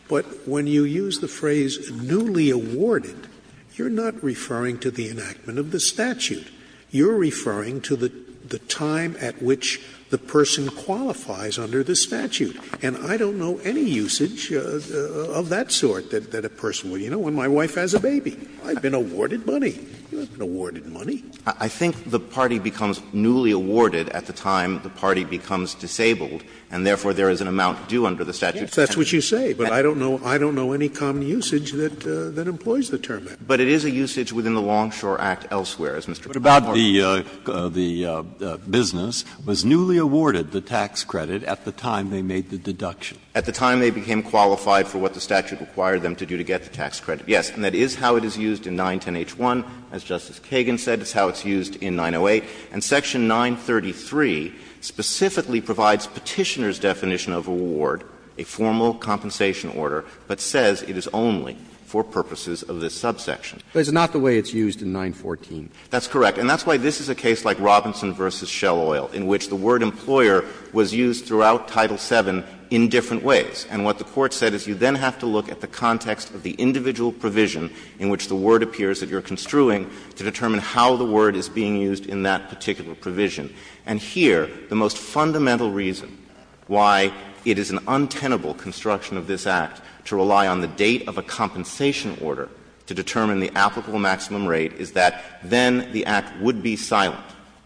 but when you use the phrase newly awarded, you're not referring to the enactment of the statute. You're referring to the time at which the person qualifies under the statute. And I don't know any usage of that sort that a person would. You know, when my wife has a baby, I've been awarded money. You haven't been awarded money. I think the party becomes newly awarded at the time the party becomes disabled, and therefore there is an amount due under the statute. Yes, that's what you say, but I don't know any common usage that employs the term award. But about the business, was newly awarded the tax credit at the time they made the deduction? At the time they became qualified for what the statute required them to do to get the tax credit, yes. And that is how it is used in 910H1. As Justice Kagan said, it's how it's used in 908. And section 933 specifically provides Petitioner's definition of award, a formal compensation order, but says it is only for purposes of this subsection. But it's not the way it's used in 914. That's correct. And that's why this is a case like Robinson v. Shell Oil, in which the word employer was used throughout Title VII in different ways. And what the Court said is you then have to look at the context of the individual provision in which the word appears that you're construing to determine how the word is being used in that particular provision. And here, the most fundamental reason why it is an untenable construction of this Act to rely on the date of a compensation order to determine the applicable maximum rate is that then the Act would be silent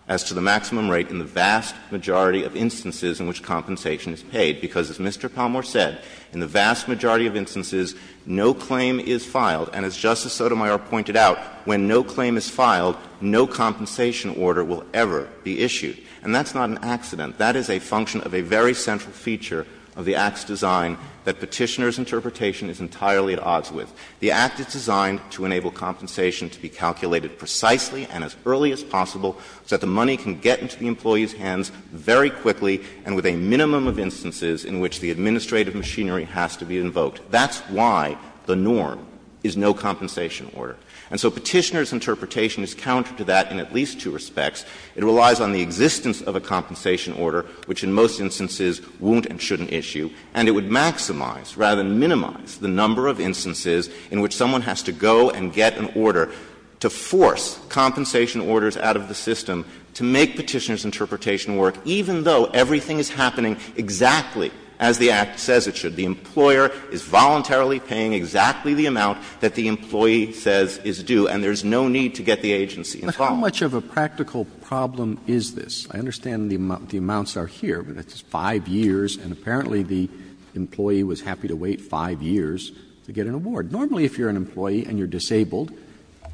as to the maximum rate in the vast majority of instances in which compensation is paid. Because as Mr. Palmore said, in the vast majority of instances, no claim is filed. And as Justice Sotomayor pointed out, when no claim is filed, no compensation order will ever be issued. And that's not an accident. That is a function of a very central feature of the Act's design that Petitioner's interpretation is entirely at odds with. The Act is designed to enable compensation to be calculated precisely and as early as possible so that the money can get into the employee's hands very quickly and with a minimum of instances in which the administrative machinery has to be invoked. That's why the norm is no compensation order. And so Petitioner's interpretation is counter to that in at least two respects. It relies on the existence of a compensation order, which in most instances won't and shouldn't issue. And it would maximize, rather than minimize, the number of instances in which someone has to go and get an order to force compensation orders out of the system to make Petitioner's interpretation work, even though everything is happening exactly as the Act says it should. The employer is voluntarily paying exactly the amount that the employee says is due, and there's no need to get the agency involved. Roberts. How much of a practical problem is this? I understand the amounts are here, but it's 5 years. And apparently, the employee was happy to wait 5 years to get an award. Normally, if you're an employee and you're disabled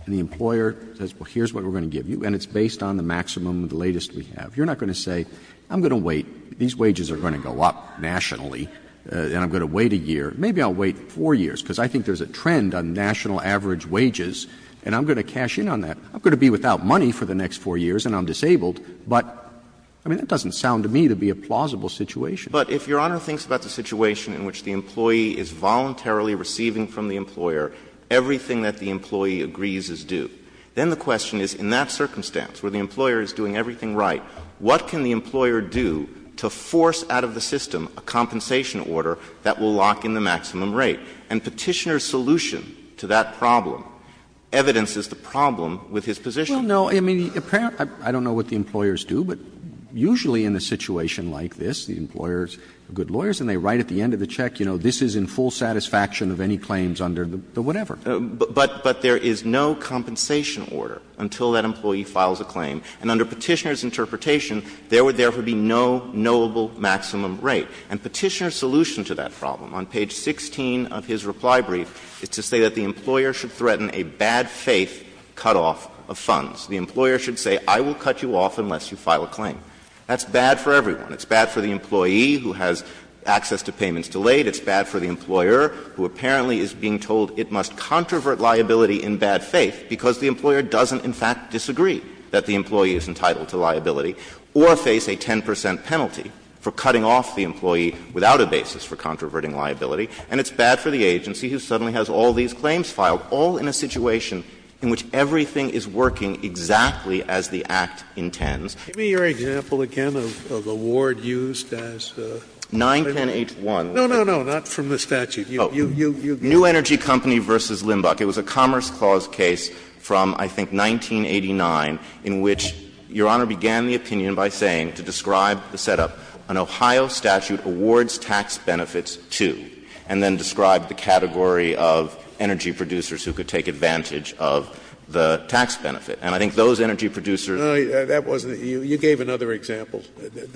and the employer says, well, here's what we're going to give you, and it's based on the maximum, the latest we have, you're not going to say, I'm going to wait, these wages are going to go up nationally, and I'm going to wait a year, maybe I'll wait 4 years, because I think there's a trend on national average wages, and I'm going to cash in on that. I'm going to be without money for the next 4 years and I'm disabled, but, I mean, that doesn't sound to me to be a plausible situation. But if Your Honor thinks about the situation in which the employee is voluntarily receiving from the employer everything that the employee agrees is due, then the question is, in that circumstance where the employer is doing everything right, what can the employer do to force out of the system a compensation order that will lock in the maximum rate? And Petitioner's solution to that problem evidences the problem with his position. Well, no, I mean, I don't know what the employers do, but usually in a situation like this, the employers are good lawyers and they write at the end of the check, you know, this is in full satisfaction of any claims under the whatever. But there is no compensation order until that employee files a claim, and under Petitioner's interpretation, there would therefore be no knowable maximum rate. And Petitioner's solution to that problem on page 16 of his reply brief is to say that the employer should threaten a bad faith cutoff of funds. The employer should say, I will cut you off unless you file a claim. That's bad for everyone. It's bad for the employee who has access to payments delayed. It's bad for the employer who apparently is being told it must controvert liability in bad faith because the employer doesn't, in fact, disagree that the employee is entitled to liability, or face a 10 percent penalty for cutting off the employee without a basis for controverting liability. And it's bad for the agency who suddenly has all these claims filed, all in a situation in which everything is working exactly as the Act intends. Scalia. Give me your example again of a ward used as a lawyer. 91081. No, no, no, not from the statute. New Energy Company v. Limbach. It was a Commerce Clause case from, I think, 1989, in which Your Honor began the opinion by saying, to describe the setup, an Ohio statute awards tax benefits to, and then described the category of energy producers who could take advantage of the tax benefit. And I think those energy producers ---- No, that wasn't it. You gave another example.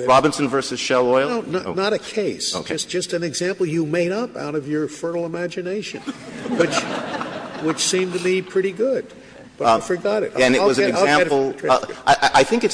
Robinson v. Shell Oil? No, not a case. Okay. It's just an example you made up out of your fertile imagination, which seemed to be pretty good. But I forgot it. And it was an example of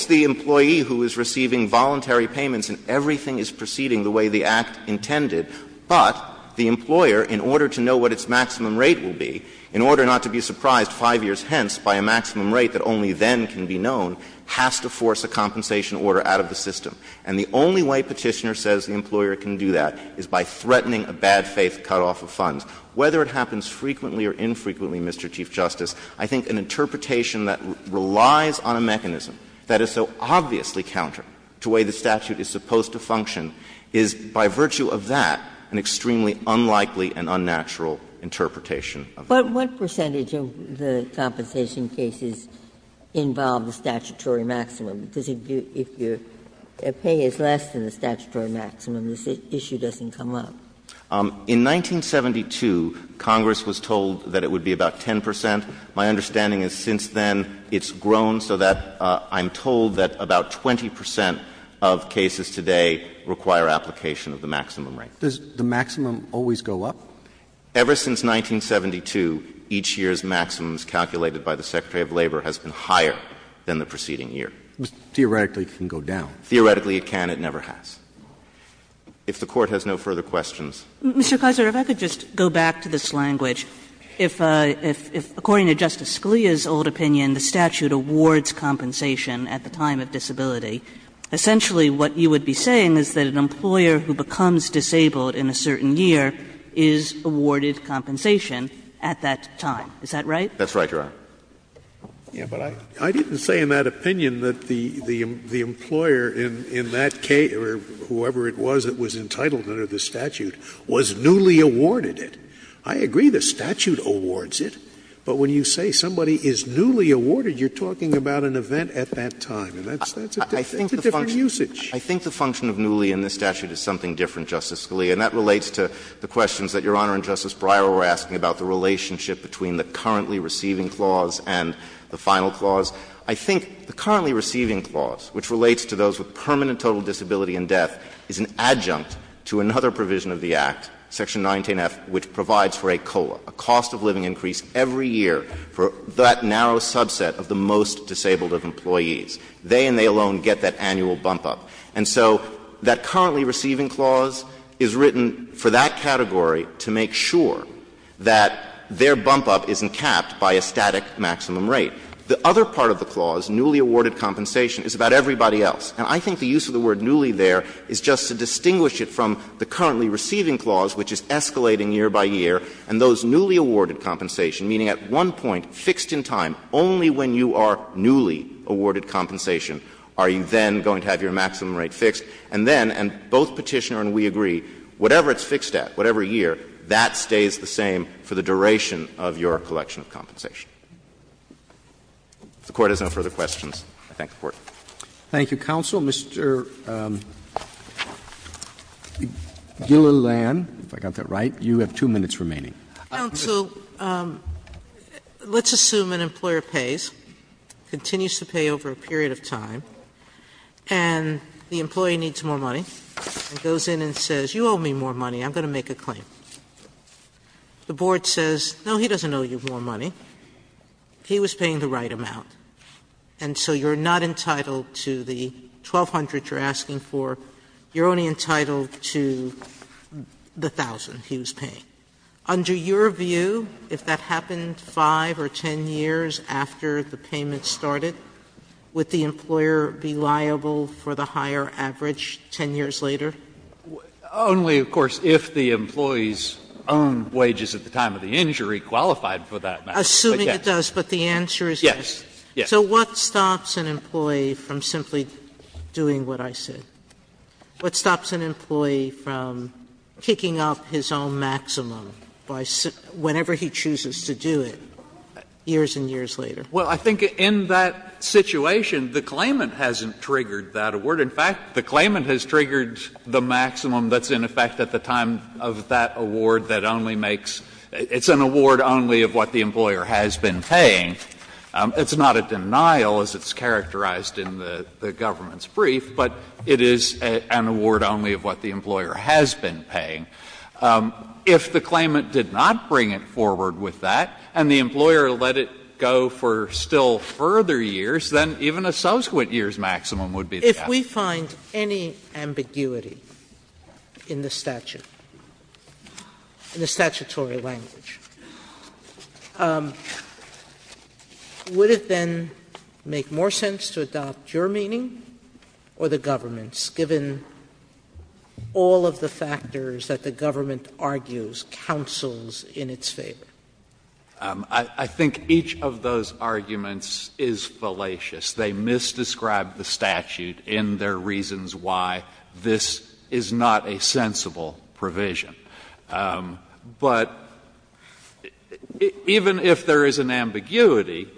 the employee who is receiving voluntary payments and everything is proceeding the way the Act intended, but the employer, in order to know what its maximum rate will be, in order not to be surprised 5 years hence by a maximum rate that only then can be known, has to force a compensation order out of the system. And the only way Petitioner says the employer can do that is by threatening a bad-faith cutoff of funds. Whether it happens frequently or infrequently, Mr. Chief Justice, I think an interpretation that relies on a mechanism that is so obviously counter to the way the statute is supposed to function is, by virtue of that, an extremely unlikely and unnatural interpretation. Ginsburg But what percentage of the compensation cases involve the statutory maximum? Because if your pay is less than the statutory maximum, this issue doesn't come up. In 1972, Congress was told that it would be about 10 percent. My understanding is since then it's grown so that I'm told that about 20 percent of cases today require application of the maximum rate. Does the maximum always go up? Ever since 1972, each year's maximums calculated by the Secretary of Labor has been higher than the preceding year. Theoretically, it can go down. Theoretically, it can. It never has. If the Court has no further questions. Mr. Kessler, if I could just go back to this language. If, according to Justice Scalia's old opinion, the statute awards compensation at the time of disability, essentially what you would be saying is that an employer who becomes disabled in a certain year is awarded compensation at that time. Is that right? That's right, Your Honor. Yeah, but I didn't say in that opinion that the employer in that case, or whoever it was that was entitled under the statute, was newly awarded it. I agree the statute awards it, but when you say somebody is newly awarded, you're talking about an event at that time. And that's a different usage. I think the function of newly in this statute is something different, Justice Scalia. And that relates to the questions that Your Honor and Justice Breyer were asking about the relationship between the currently receiving clause and the final clause. I think the currently receiving clause, which relates to those with permanent total disability and death, is an adjunct to another provision of the Act, Section 19F, which provides for a COLA, a cost of living increase every year for that narrow subset of the most disabled of employees. They and they alone get that annual bump-up. And so that currently receiving clause is written for that category to make sure that their bump-up isn't capped by a static maximum rate. The other part of the clause, newly awarded compensation, is about everybody else. And I think the use of the word newly there is just to distinguish it from the currently receiving clause, which is escalating year by year, and those newly awarded compensation, meaning at one point, fixed in time, only when you are newly awarded compensation are you then going to have your maximum rate fixed, and then, and both Petitioner and we agree, whatever it's fixed at, whatever year, that stays the same for the duration of your collection of compensation. If the Court has no further questions, I thank the Court. Roberts. Thank you, counsel. Mr. Gillilan, if I got that right, you have two minutes remaining. Counsel, let's assume an employer pays, continues to pay over a period of time, and the employee needs more money, goes in and says, you owe me more money, I'm going to make a claim. The board says, no, he doesn't owe you more money, he was paying the right amount, and so you're not entitled to the $1,200 you're asking for, you're only entitled to the $1,000 he was paying. Under your view, if that happened 5 or 10 years after the payment started, would the employer be liable for the higher average 10 years later? Only, of course, if the employee's own wages at the time of the injury qualified for that matter. Assuming it does, but the answer is yes? Yes. So what stops an employee from simply doing what I said? What stops an employee from kicking up his own maximum whenever he chooses to do it years and years later? Well, I think in that situation, the claimant hasn't triggered that award. In fact, the claimant has triggered the maximum that's in effect at the time of that award that only makes – it's an award only of what the employer has been paying. It's not a denial, as it's characterized in the government's brief, but it is an award only of what the employer has been paying. If the claimant did not bring it forward with that and the employer let it go for still further years, then even a subsequent year's maximum would be the answer. Sotomayor, if we find any ambiguity in the statute, in the statutory language, would it then make more sense to adopt your meaning or the government's? Given all of the factors that the government argues, counsels in its favor? I think each of those arguments is fallacious. They misdescribe the statute in their reasons why this is not a sensible provision. But even if there is an ambiguity,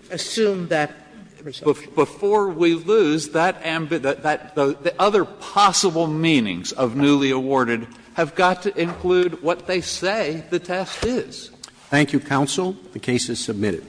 before we lose that ambiguity, the other part of the statute, the possible meanings of newly awarded, have got to include what they say the test is. Thank you, counsel. The case is submitted.